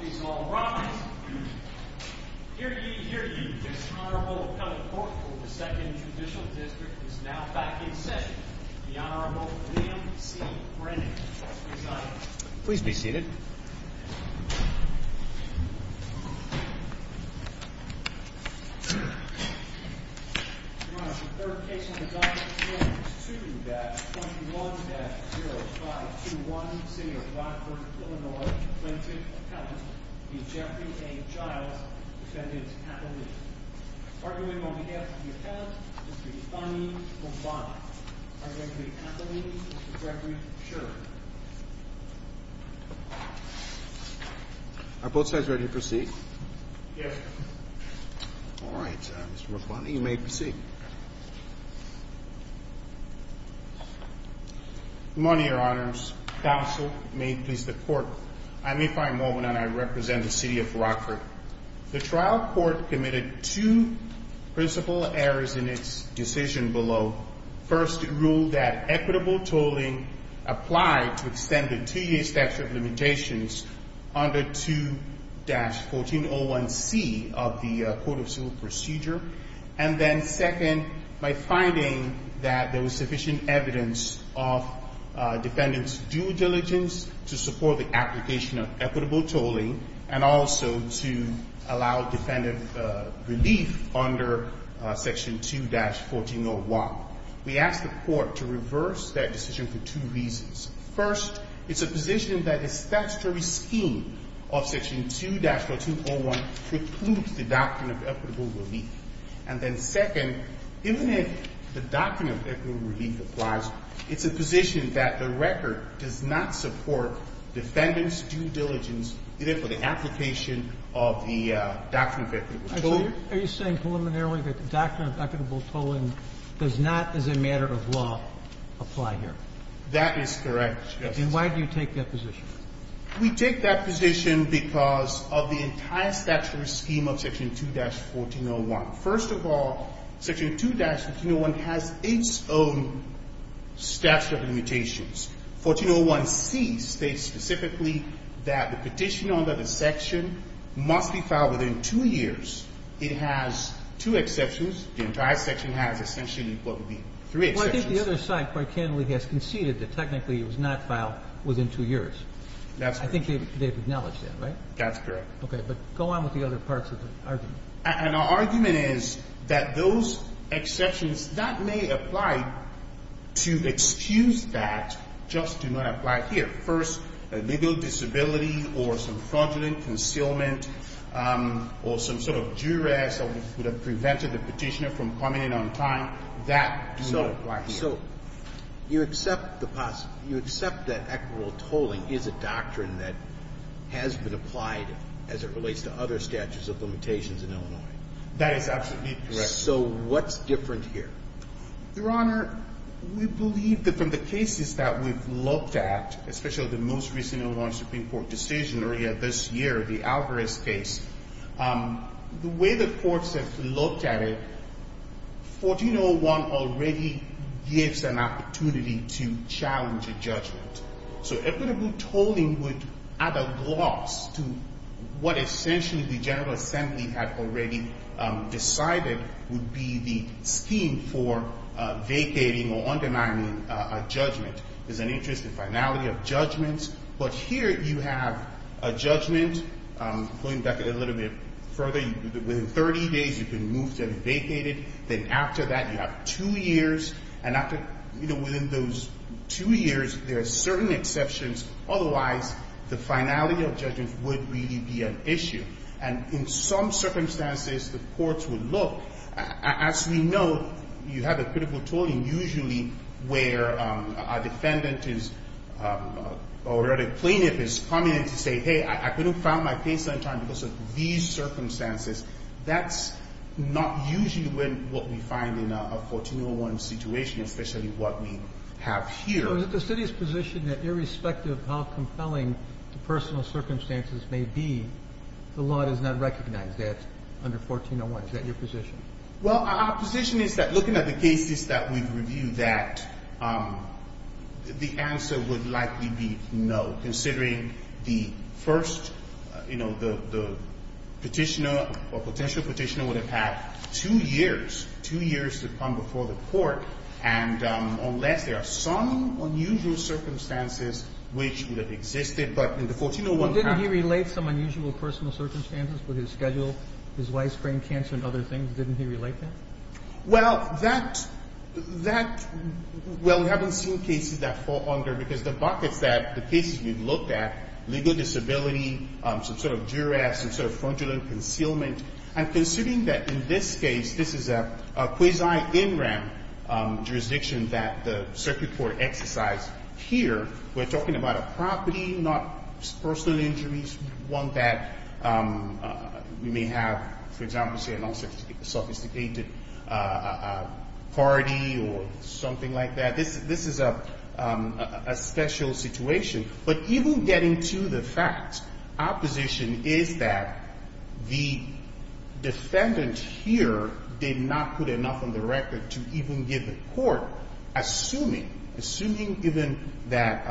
Please all rise. Here to you, here to you, this Honorable Appellate Court for the 2nd Judicial District is now back in session. The Honorable William C. Brennan will now preside. Your Honor, the third case on the docket this morning is 2-21-0521, City of Rockford, Illinois, plaintiff's appellant, the Jeffrey A. Giles, defendant's appellee. Mr. Brennan, are you in on behalf of the appellant, Mr. Rufani Rufani? Are you in on behalf of the appellee, Mr. Jeffrey Sherman? Are both sides ready to proceed? Yes, Your Honor. All right, Mr. Rufani, you may proceed. Good morning, Your Honors. Counsel, may it please the Court, I'm Nephi Mulvin, and I represent the City of Rockford. The trial court committed two principal errors in its decision below. First, it ruled that equitable tolling applied to extend the two-year statute of limitations under 2-1401C of the Court of Civil Procedure. And then second, by finding that there was sufficient evidence of defendant's due diligence to support the application of equitable tolling and also to allow defendant relief under Section 2-1401, we asked the Court to reverse that decision for two reasons. First, it's a position that the statutory scheme of Section 2-1401 precludes the doctrine of equitable relief. And then second, even if the doctrine of equitable relief applies, it's a position that the record does not support defendant's due diligence, even for the application of the doctrine of equitable tolling. Are you saying preliminarily that the doctrine of equitable tolling does not, as a matter of law, apply here? That is correct, Justice Sotomayor. And why do you take that position? We take that position because of the entire statutory scheme of Section 2-1401. First of all, Section 2-1401 has its own statute of limitations. 1401C states specifically that the petition under the section must be filed within two years. It has two exceptions. The entire section has essentially what would be three exceptions. Well, I think the other side quite candidly has conceded that technically it was not filed within two years. That's correct. I think they've acknowledged that, right? That's correct. Okay. But go on with the other parts of the argument. And our argument is that those exceptions, that may apply to excuse that just do not apply here. First, legal disability or some fraudulent concealment or some sort of duress that would have prevented the petitioner from coming in on time, that do not apply here. So you accept that equitable tolling is a doctrine that has been applied as it relates to other statutes of limitations in Illinois? That is absolutely correct. So what's different here? Your Honor, we believe that from the cases that we've looked at, especially the most recent Illinois Supreme Court decision earlier this year, the Alvarez case, the way the courts have looked at it, 1401 already gives an opportunity to challenge a judgment. So equitable tolling would add a gloss to what essentially the General Assembly had already decided would be the scheme for vacating or undermining a judgment. There's an interest in finality of judgments. But here you have a judgment going back a little bit further. Within 30 days, you've been moved and vacated. Then after that, you have two years. And after, you know, within those two years, there are certain exceptions. Otherwise, the finality of judgments would really be an issue. And in some circumstances, the courts would look. As we know, you have a critical tolling usually where a defendant is already plaintiff is coming in to say, hey, I couldn't file my case on time because of these circumstances. That's not usually what we find in a 1401 situation, especially what we have here. So is it the city's position that irrespective of how compelling the personal circumstances may be, the law does not recognize that under 1401? Is that your position? Well, our position is that looking at the cases that we've reviewed, that the answer would likely be no, considering the first, you know, the Petitioner or potential Petitioner would have had two years, two years to come before the court, and unless there are some unusual circumstances which would have existed. But in the 1401 case ---- Well, we haven't seen cases that fall under, because the buckets that the cases we've looked at, legal disability, some sort of duress, some sort of fraudulent concealment, and considering that in this case, this is a quasi-in-ramp jurisdiction that the circuit court exercised here, we're talking about a property, not personal injuries, one that we may have, for example, say a non-sophisticated party or something like that. This is a special situation. But even getting to the facts, our position is that the defendant here did not put enough on the record to even give the court, assuming, assuming even that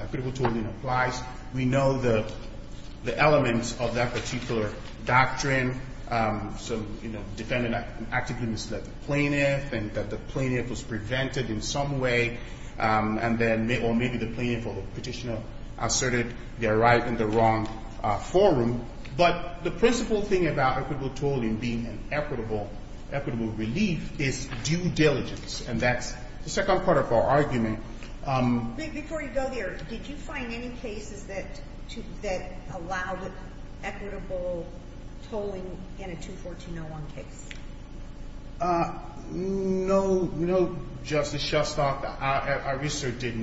equitable tolling applies, we know the elements of that particular doctrine. So, you know, defendant actively misled the plaintiff and that the plaintiff was prevented in some way, and then maybe the plaintiff or Petitioner asserted their right in the wrong forum. But the principal thing about equitable tolling being an equitable relief is due diligence, and that's the second part of our argument. Before you go there, did you find any cases that allowed equitable tolling in a 214-01 case? No. You know, Justice Shostak, our research did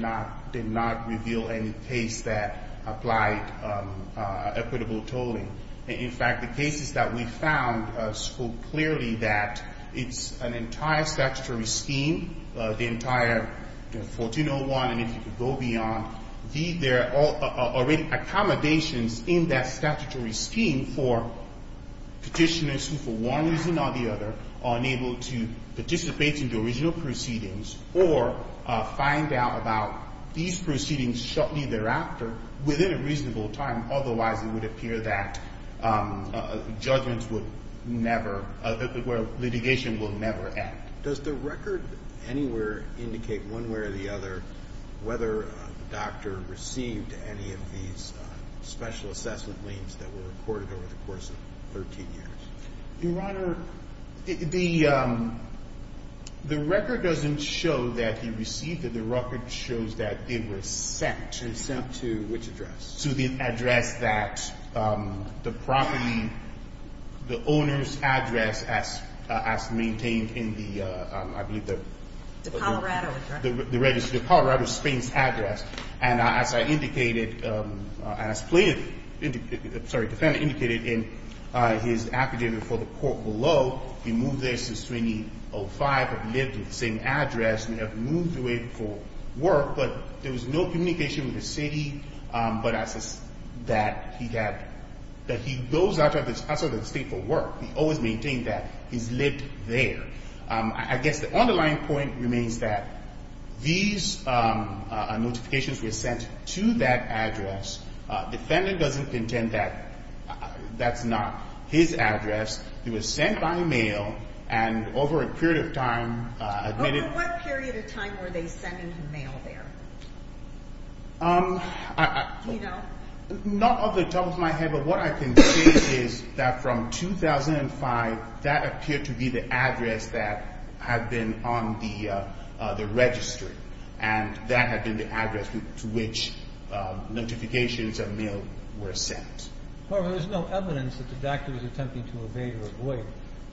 not reveal any case that applied equitable tolling. In fact, the cases that we found spoke clearly that it's an entire statutory scheme, the entire 1401, and if you could go beyond, there are already accommodations in that statutory scheme for Petitioners who for one reason or the other are unable to participate in the original proceedings or find out about these proceedings shortly thereafter within a reasonable time, otherwise it would appear that judgments would never, where litigation will never end. Does the record anywhere indicate one way or the other whether the doctor received any of these special assessment claims that were recorded over the course of 13 years? Your Honor, the record doesn't show that he received them. The record shows that they were sent. They were sent to which address? To the address that the property, the owner's address as maintained in the, I believe, the register. The Colorado address. And as I indicated, as plaintiff, sorry, defendant indicated in his affidavit before the court below, he moved there since 2005, had lived at the same address, may have moved away for work, but there was no communication with the city, but that he had, that he goes out of the state for work. He always maintained that he's lived there. I guess the underlying point remains that these notifications were sent to that address. Defendant doesn't contend that that's not his address. It was sent by mail and over a period of time admitted. Over what period of time were they sent in the mail there? Do you know? Not off the top of my head, but what I can say is that from 2005, that appeared to be the address that had been on the registry, and that had been the address to which notifications of mail were sent. However, there's no evidence that the doctor was attempting to evade or avoid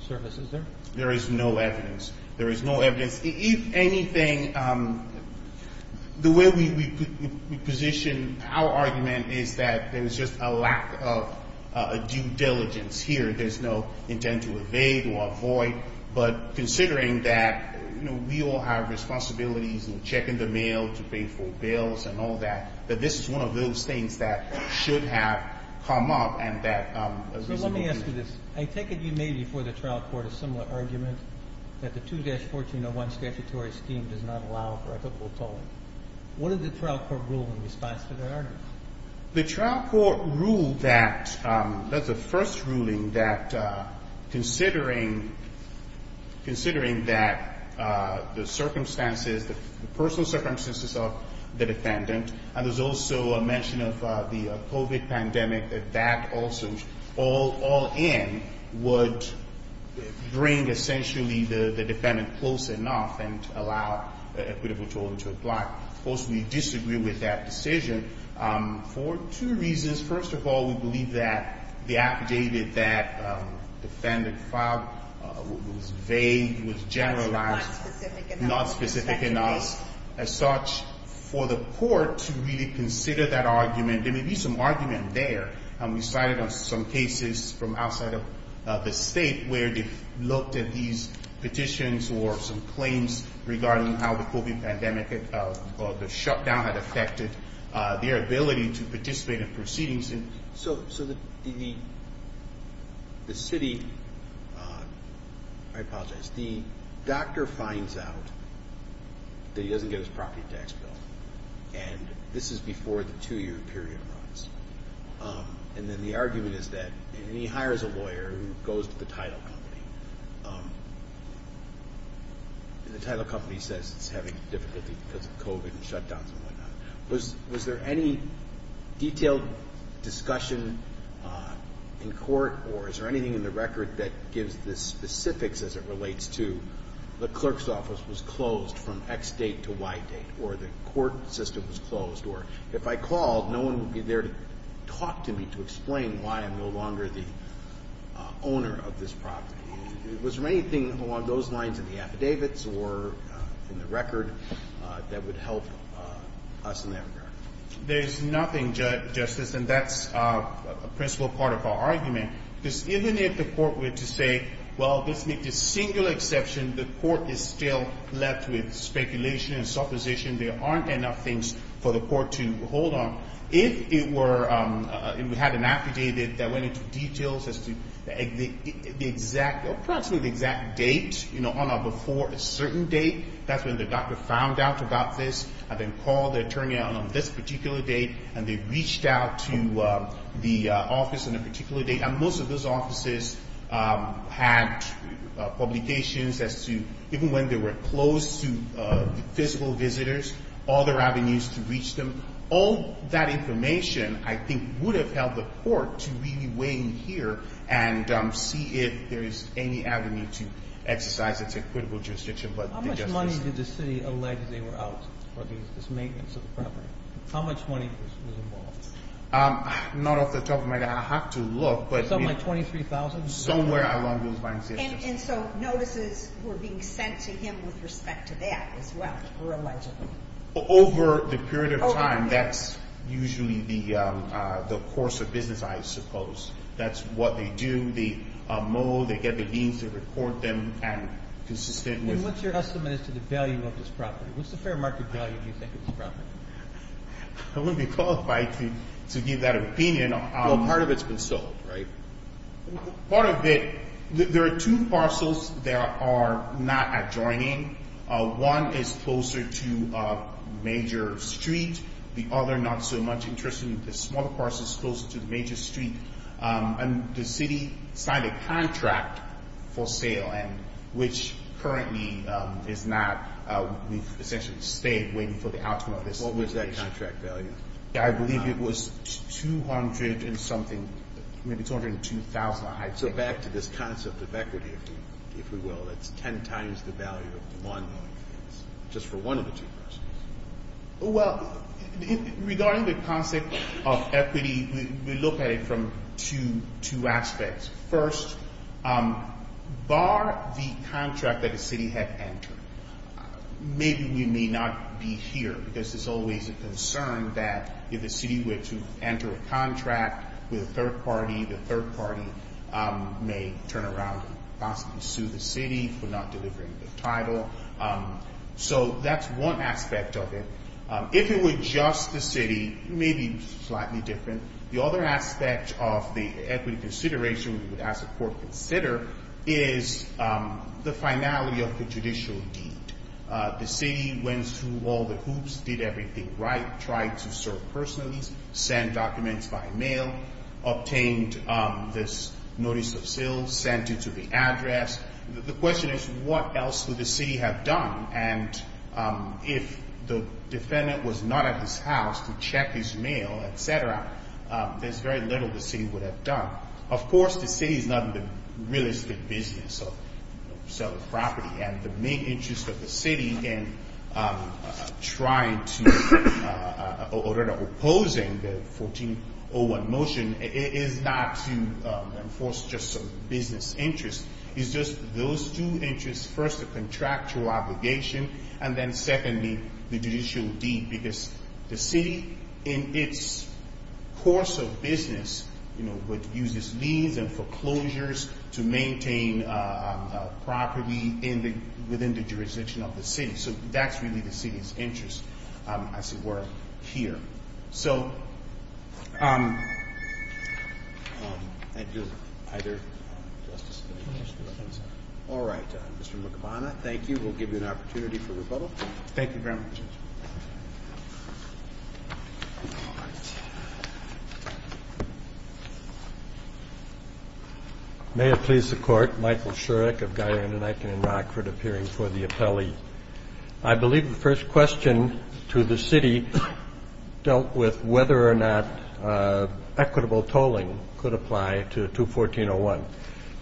service, is there? There is no evidence. There is no evidence. If anything, the way we position our argument is that there's just a lack of due diligence here. There's no intent to evade or avoid, but considering that, you know, we all have responsibilities in checking the mail to pay for bills and all that, that this is one of those things that should have come up and that a reasonable view. So let me ask you this. I take it you made before the trial court a similar argument, that the 2-1401 statutory scheme does not allow for equitable tolling. What did the trial court rule in response to that argument? The trial court ruled that, that the first ruling, that considering that the circumstances, the personal circumstances of the defendant, and there's also a mention of the COVID pandemic, that that also all in would bring essentially the defendant close enough and allow equitable tolling to apply. Of course, we disagree with that decision for two reasons. First of all, we believe that the affidavit that the defendant filed was vague, was generalized, not specific enough as such for the court to really consider that argument. There may be some argument there. We cited on some cases from outside of the state where they looked at these petitions or some claims regarding how the COVID pandemic or the shutdown had affected their ability to participate in proceedings. So the city, I apologize, the doctor finds out that he doesn't get his property tax bill. And this is before the two-year period runs. And then the argument is that he hires a lawyer who goes to the title company. And the title company says it's having difficulty because of COVID and shutdowns and whatnot. But was there any detailed discussion in court, or is there anything in the record that gives the specifics as it relates to the clerk's office was closed from X date to Y date, or the court system was closed, or if I called, no one would be there to talk to me to explain why I'm no longer the owner of this property. Was there anything along those lines in the affidavits or in the record that would help us in that regard? There's nothing, Justice, and that's a principal part of our argument. Because even if the court were to say, well, this makes a single exception, the court is still left with speculation and supposition. There aren't enough things for the court to hold on. If it were, if we had an affidavit that went into details as to the exact, approximately the exact date, you know, on or before a certain date, that's when the doctor found out about this and then called the attorney on this particular date, and they reached out to the office on a particular date. And most of those offices had publications as to even when they were closed to physical visitors, all their avenues to reach them. So all that information, I think, would have helped the court to really weigh in here and see if there is any avenue to exercise its equitable jurisdiction. How much money did the city allege they were out for this maintenance of the property? How much money was involved? Not off the top of my head. I'll have to look. Something like $23,000? Somewhere along those lines, yes. And so notices were being sent to him with respect to that as well, were alleged? Over the period of time, that's usually the course of business, I suppose. That's what they do. They mow, they get the deans to report them, and consistent with... And what's your estimate as to the value of this property? What's the fair market value, do you think, of this property? I wouldn't be qualified to give that opinion. Well, part of it's been sold, right? Part of it... There are two parcels that are not adjoining. One is closer to a major street, the other not so much. Interestingly, the smaller parcel is closer to the major street. And the city signed a contract for sale, which currently is not... We've essentially stayed waiting for the outcome of this. What was that contract value? I believe it was $200,000 and something, maybe $202,000. So back to this concept of equity, if we will. It's ten times the value of one, just for one of the two parcels. Well, regarding the concept of equity, we look at it from two aspects. First, bar the contract that the city had entered, maybe we may not be here because there's always a concern that if the city were to enter a contract with a third party, the third party may turn around and possibly sue the city for not delivering the title. So that's one aspect of it. If it were just the city, maybe slightly different. The other aspect of the equity consideration we would, as a court, consider is the finality of the judicial deed. The city went through all the hoops, did everything right, tried to serve personally, sent documents by mail, obtained this notice of seal, sent it to the address. The question is what else would the city have done? And if the defendant was not at his house to check his mail, et cetera, there's very little the city would have done. Of course, the city is not in the realistic business of selling property, and the main interest of the city in opposing the 1401 motion is not to enforce just some business interest. It's just those two interests. First, the contractual obligation, and then secondly, the judicial deed, because the city, in its course of business, uses these and foreclosures to maintain property within the jurisdiction of the city. So that's really the city's interest, as it were, here. All right, Mr. McAbana, thank you. We'll give you an opportunity for rebuttal. Thank you very much. May it please the Court. Michael Shurrock of Guyana-Knighton in Rockford, appearing for the appellee. I believe the first question to the city dealt with whether or not equitable tolling could apply to 214-01.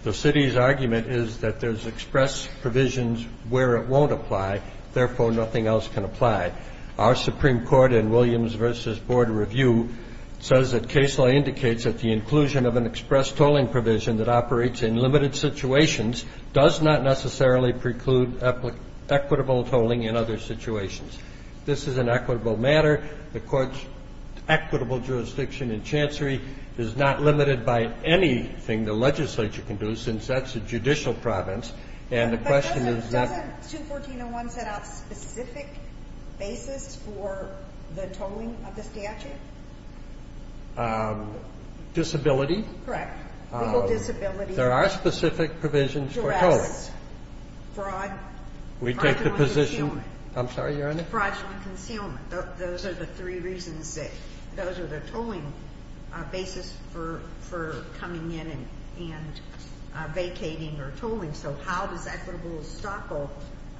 The city's argument is that there's express provisions where it won't apply, therefore nothing else can apply. Our Supreme Court in Williams v. Board Review says that case law indicates that the inclusion of an express tolling provision that operates in limited situations does not necessarily preclude equitable tolling in other situations. This is an equitable matter. The Court's equitable jurisdiction in Chancery is not limited by anything the legislature can do, since that's a judicial province, and the question is that. But doesn't 214-01 set out specific basis for the tolling of the statute? Disability. Correct. Legal disability. There are specific provisions for tolling. Jurassic. Fraud. We take the position. Fraudulent concealment. I'm sorry, Your Honor? Fraudulent concealment. Those are the three reasons that those are the tolling basis for coming in and vacating or tolling. So how does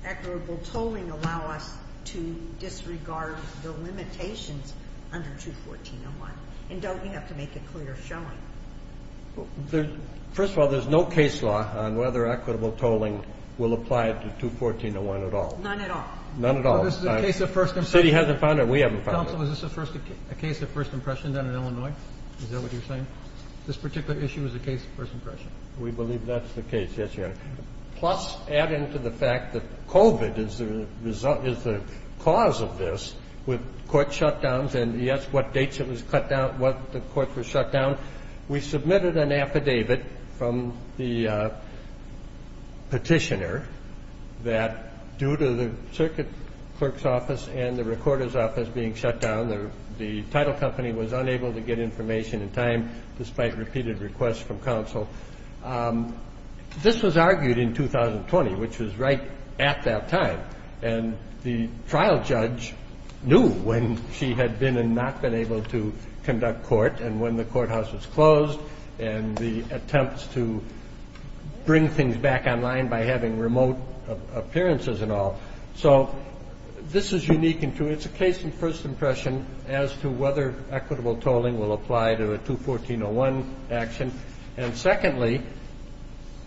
equitable tolling allow us to disregard the limitations under 214-01? And don't we have to make it clear showing? First of all, there's no case law on whether equitable tolling will apply to 214-01 at all. None at all? None at all. The city hasn't found it. We haven't found it. Counsel, is this a case of first impression done in Illinois? Is that what you're saying? This particular issue is a case of first impression. We believe that's the case, yes, Your Honor. Plus add into the fact that COVID is the cause of this with court shutdowns and, yes, what dates it was cut down, what the court was shut down. We submitted an affidavit from the petitioner that due to the circuit clerk's office and the recorder's office being shut down, the title company was unable to get information in time despite repeated requests from counsel. This was argued in 2020, which was right at that time, and the trial judge knew when she had been and not been able to conduct court and when the courthouse was closed and the attempts to bring things back online by having remote appearances and all. So this is unique and true. It's a case of first impression as to whether equitable tolling will apply to a 214-01 action. And secondly,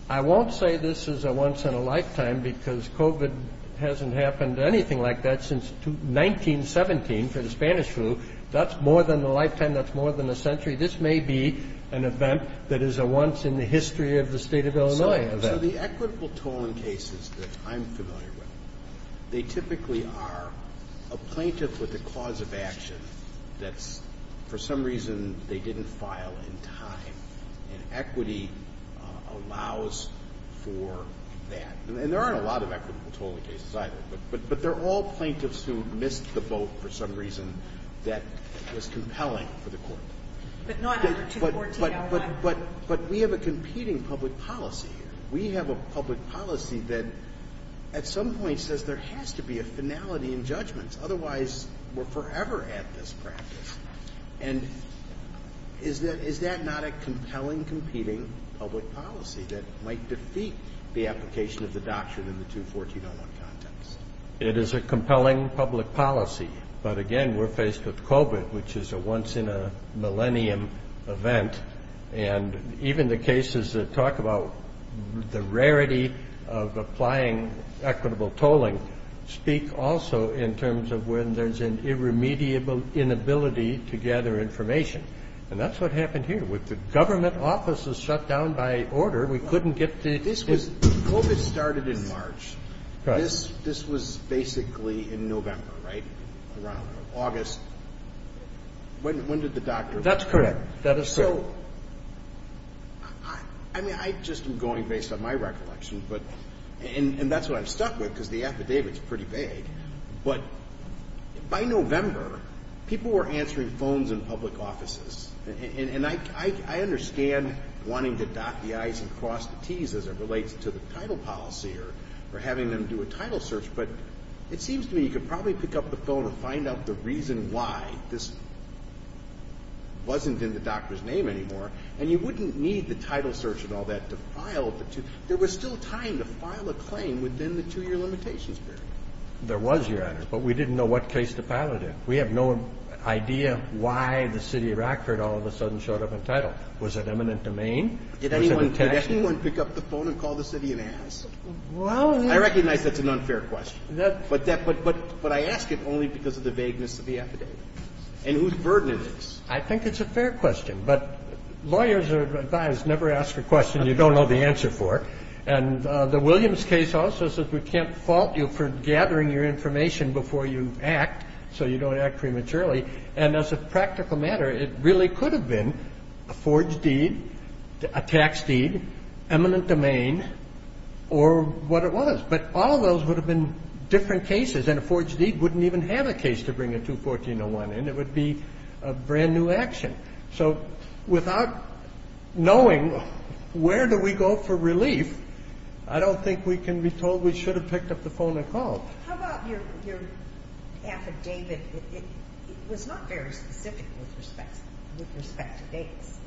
I won't say this is a once-in-a-lifetime because COVID hasn't happened anything like that since 1917 for the Spanish flu. That's more than a lifetime. That's more than a century. This may be an event that is a once-in-the-history-of-the-state-of-Illinois event. So the equitable tolling cases that I'm familiar with, they typically are a plaintiff with a cause of action that's, for some reason, they didn't file in time. And equity allows for that. And there aren't a lot of equitable tolling cases, either. But they're all plaintiffs who missed the boat for some reason that was compelling for the court. But not a 214-01. But we have a competing public policy here. We have a public policy that, at some point, says there has to be a finality in judgments. Otherwise, we're forever at this practice. And is that not a compelling, competing public policy that might defeat the application of the doctrine in the 214-01 context? It is a compelling public policy. But, again, we're faced with COVID, which is a once-in-a-millennium event. And even the cases that talk about the rarity of applying equitable tolling speak also in terms of when there's an irremediable inability to gather information. And that's what happened here. With the government offices shut down by order, we couldn't get the ‑‑ This was ‑‑ COVID started in March. This was basically in November, right? Around August. When did the doctrine ‑‑ That's correct. That is correct. So, I mean, I just am going based on my recollection. And that's what I'm stuck with because the affidavit is pretty vague. But by November, people were answering phones in public offices. And I understand wanting to dot the I's and cross the T's as it relates to the title policy or having them do a title search. But it seems to me you could probably pick up the phone and find out the reason why this wasn't in the doctor's name anymore. And you wouldn't need the title search and all that to file the two. There was still time to file a claim within the two-year limitations period. There was, Your Honor. But we didn't know what case to file it in. We have no idea why the city of Rockford all of a sudden showed up entitled. Was it eminent domain? Did anyone pick up the phone and call the city and ask? I recognize that's an unfair question. But I ask it only because of the vagueness of the affidavit and whose burden it is. I think it's a fair question. But lawyers are advised never ask a question you don't know the answer for. And the Williams case also says we can't fault you for gathering your information before you act so you don't act prematurely. And as a practical matter, it really could have been a forged deed, a tax deed, eminent domain, or what it was. But all those would have been different cases. And a forged deed wouldn't even have a case to bring a 214-01 in. It would be a brand-new action. So without knowing where do we go for relief, I don't think we can be told we should have picked up the phone and called. Well, how about your affidavit? It was not very specific with respect to dates.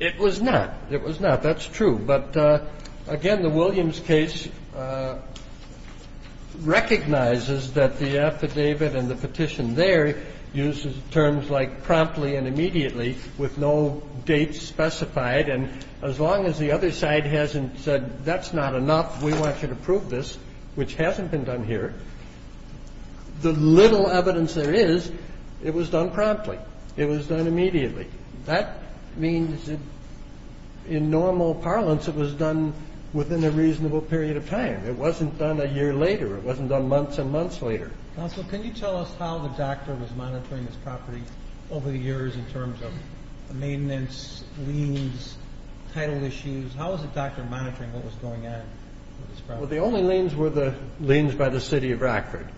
It was not. It was not. That's true. But, again, the Williams case recognizes that the affidavit and the petition there uses terms like promptly and immediately with no date specified. And as long as the other side hasn't said that's not enough, we want you to prove this, which hasn't been done here, the little evidence there is it was done promptly. It was done immediately. That means that in normal parlance it was done within a reasonable period of time. It wasn't done a year later. It wasn't done months and months later. Counsel, can you tell us how the doctor was monitoring this property over the years in terms of maintenance, liens, title issues? How was the doctor monitoring what was going on with this property? Well, the only liens were the liens by the city of Rockford.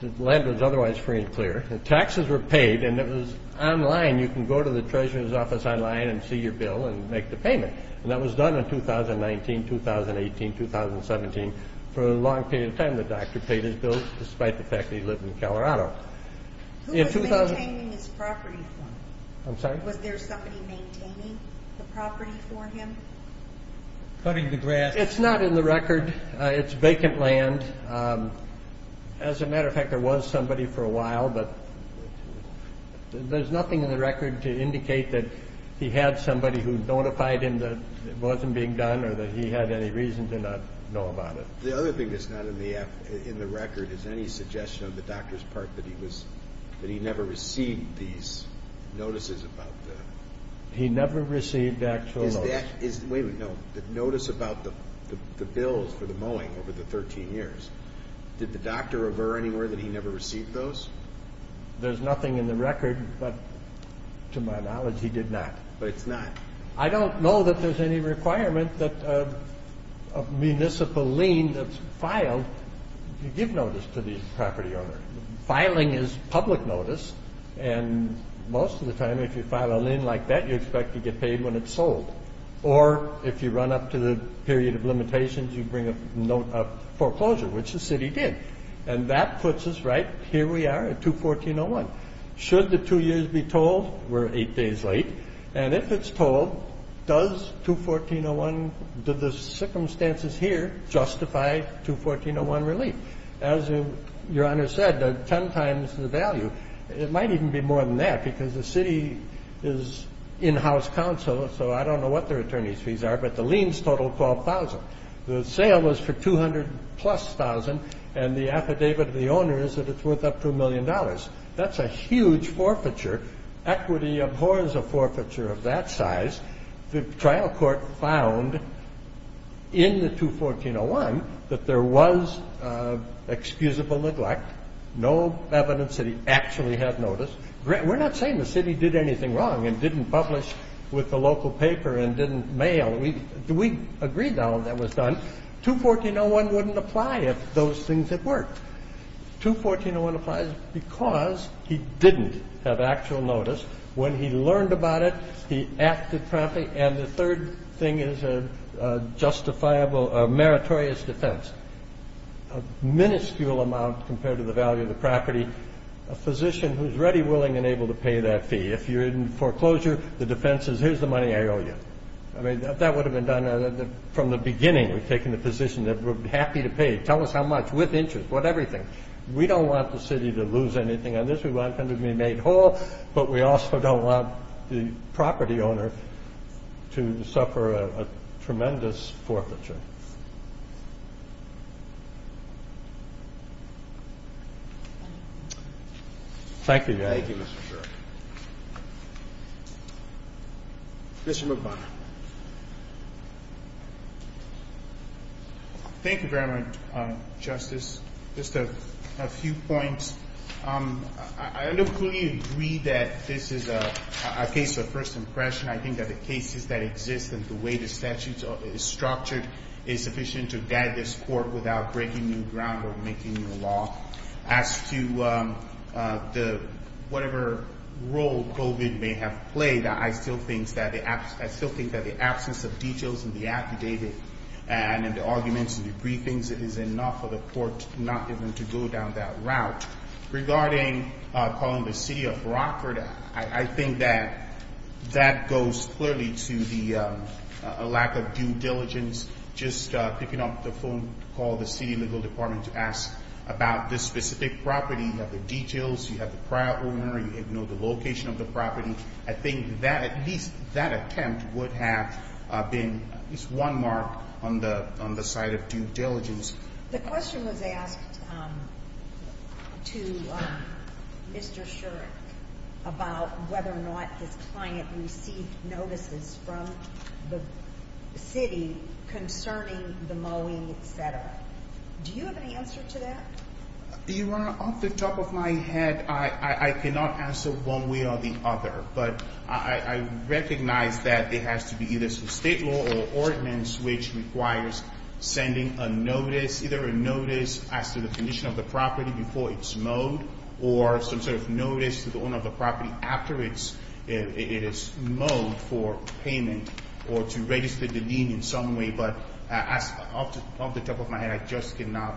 The land was otherwise free and clear. The taxes were paid, and it was online. You can go to the treasurer's office online and see your bill and make the payment. And that was done in 2019, 2018, 2017 for a long period of time. The doctor paid his bills despite the fact that he lived in Colorado. Who was maintaining this property for him? I'm sorry? Was there somebody maintaining the property for him? Cutting the grass. It's not in the record. It's vacant land. As a matter of fact, there was somebody for a while, but there's nothing in the record to indicate that he had somebody who notified him that it wasn't being done or that he had any reason to not know about it. The other thing that's not in the record is any suggestion on the doctor's part that he never received these notices about the... Wait a minute, no. The notice about the bills for the mowing over the 13 years, did the doctor ever anywhere that he never received those? There's nothing in the record, but to my knowledge, he did not. But it's not. I don't know that there's any requirement that a municipal lien that's filed, you give notice to the property owner. Filing is public notice, and most of the time if you file a lien like that, you expect to get paid when it's sold. Or if you run up to the period of limitations, you bring a foreclosure, which the city did. And that puts us right, here we are at 214.01. Should the two years be told? We're eight days late. And if it's told, does 214.01, do the circumstances here justify 214.01 relief? As your Honor said, 10 times the value. It might even be more than that, because the city is in-house counsel, so I don't know what their attorney's fees are, but the liens total 12,000. The sale was for 200 plus thousand, and the affidavit of the owner is that it's worth up to a million dollars. That's a huge forfeiture. Equity abhors a forfeiture of that size. The trial court found in the 214.01 that there was excusable neglect, no evidence that he actually had notice. We're not saying the city did anything wrong and didn't publish with the local paper and didn't mail. We agreed that all of that was done. 214.01 wouldn't apply if those things had worked. 214.01 applies because he didn't have actual notice. When he learned about it, he acted promptly. And the third thing is a justifiable, a meritorious defense. A minuscule amount compared to the value of the property. A physician who's ready, willing, and able to pay that fee. If you're in foreclosure, the defense is, here's the money I owe you. I mean, that would have been done from the beginning. We've taken the position that we're happy to pay. Tell us how much, with interest, with everything. We don't want the city to lose anything on this. We want him to be made whole. But we also don't want the property owner to suffer a tremendous forfeiture. Thank you. Thank you, Mr. Burke. Mr. McDonough. Thank you very much, Justice. Just a few points. I don't fully agree that this is a case of first impression. I think that the cases that exist and the way the statute is structured is sufficient to guide this court without breaking new ground or making new law. As to whatever role COVID may have played, I still think that the absence of details in the affidavit and in the arguments and the briefings, it is enough for the court not even to go down that route. Regarding calling the city of Rockford, I think that that goes clearly to the lack of due diligence, just picking up the phone to call the city legal department to ask about this specific property. You have the details. You have the prior owner. You know the location of the property. I think that at least that attempt would have been at least one mark on the side of due diligence. The question was asked to Mr. Shurek about whether or not his client received notices from the city concerning the mowing, et cetera. Do you have an answer to that? Your Honor, off the top of my head, I cannot answer one way or the other, but I recognize that it has to be either some state law or ordinance which requires sending a notice, either a notice as to the condition of the property before it's mowed or some sort of notice to the owner of the property after it is mowed for payment or to register the lien in some way. But off the top of my head, I just cannot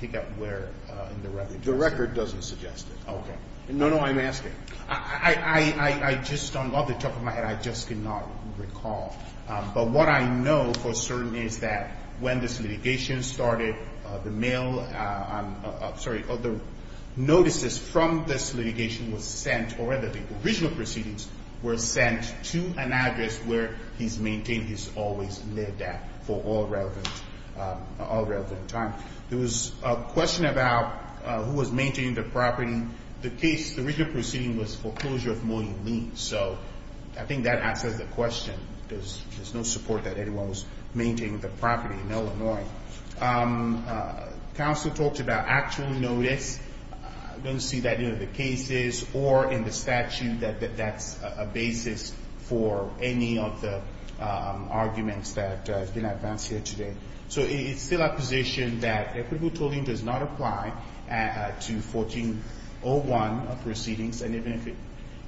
pick up where in the record. The record doesn't suggest it. Okay. No, no, I'm asking. Off the top of my head, I just cannot recall. But what I know for certain is that when this litigation started, the notices from this litigation were sent, or rather the original proceedings were sent to an address where he's maintained he's always lived at for all relevant time. There was a question about who was maintaining the property. The case, the original proceeding was for closure of mowing liens, so I think that answers the question. There's no support that anyone was maintaining the property in Illinois. Counsel talked about actual notice. I don't see that in any of the cases or in the statute that that's a basis for any of the arguments that have been advanced here today. So it's still our position that equitable tolling does not apply to 1401 proceedings, and even if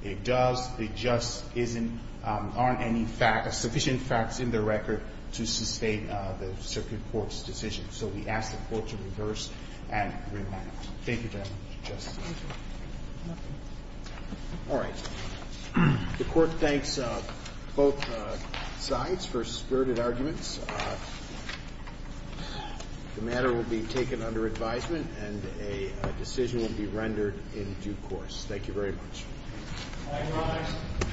it does, it just isn't on any facts, sufficient facts in the record to sustain the circuit court's decision. So we ask the Court to reverse and remand. Thank you, Justice. All right. The Court thanks both sides for spirited arguments. The matter will be taken under advisement, and a decision will be rendered in due course. Thank you very much.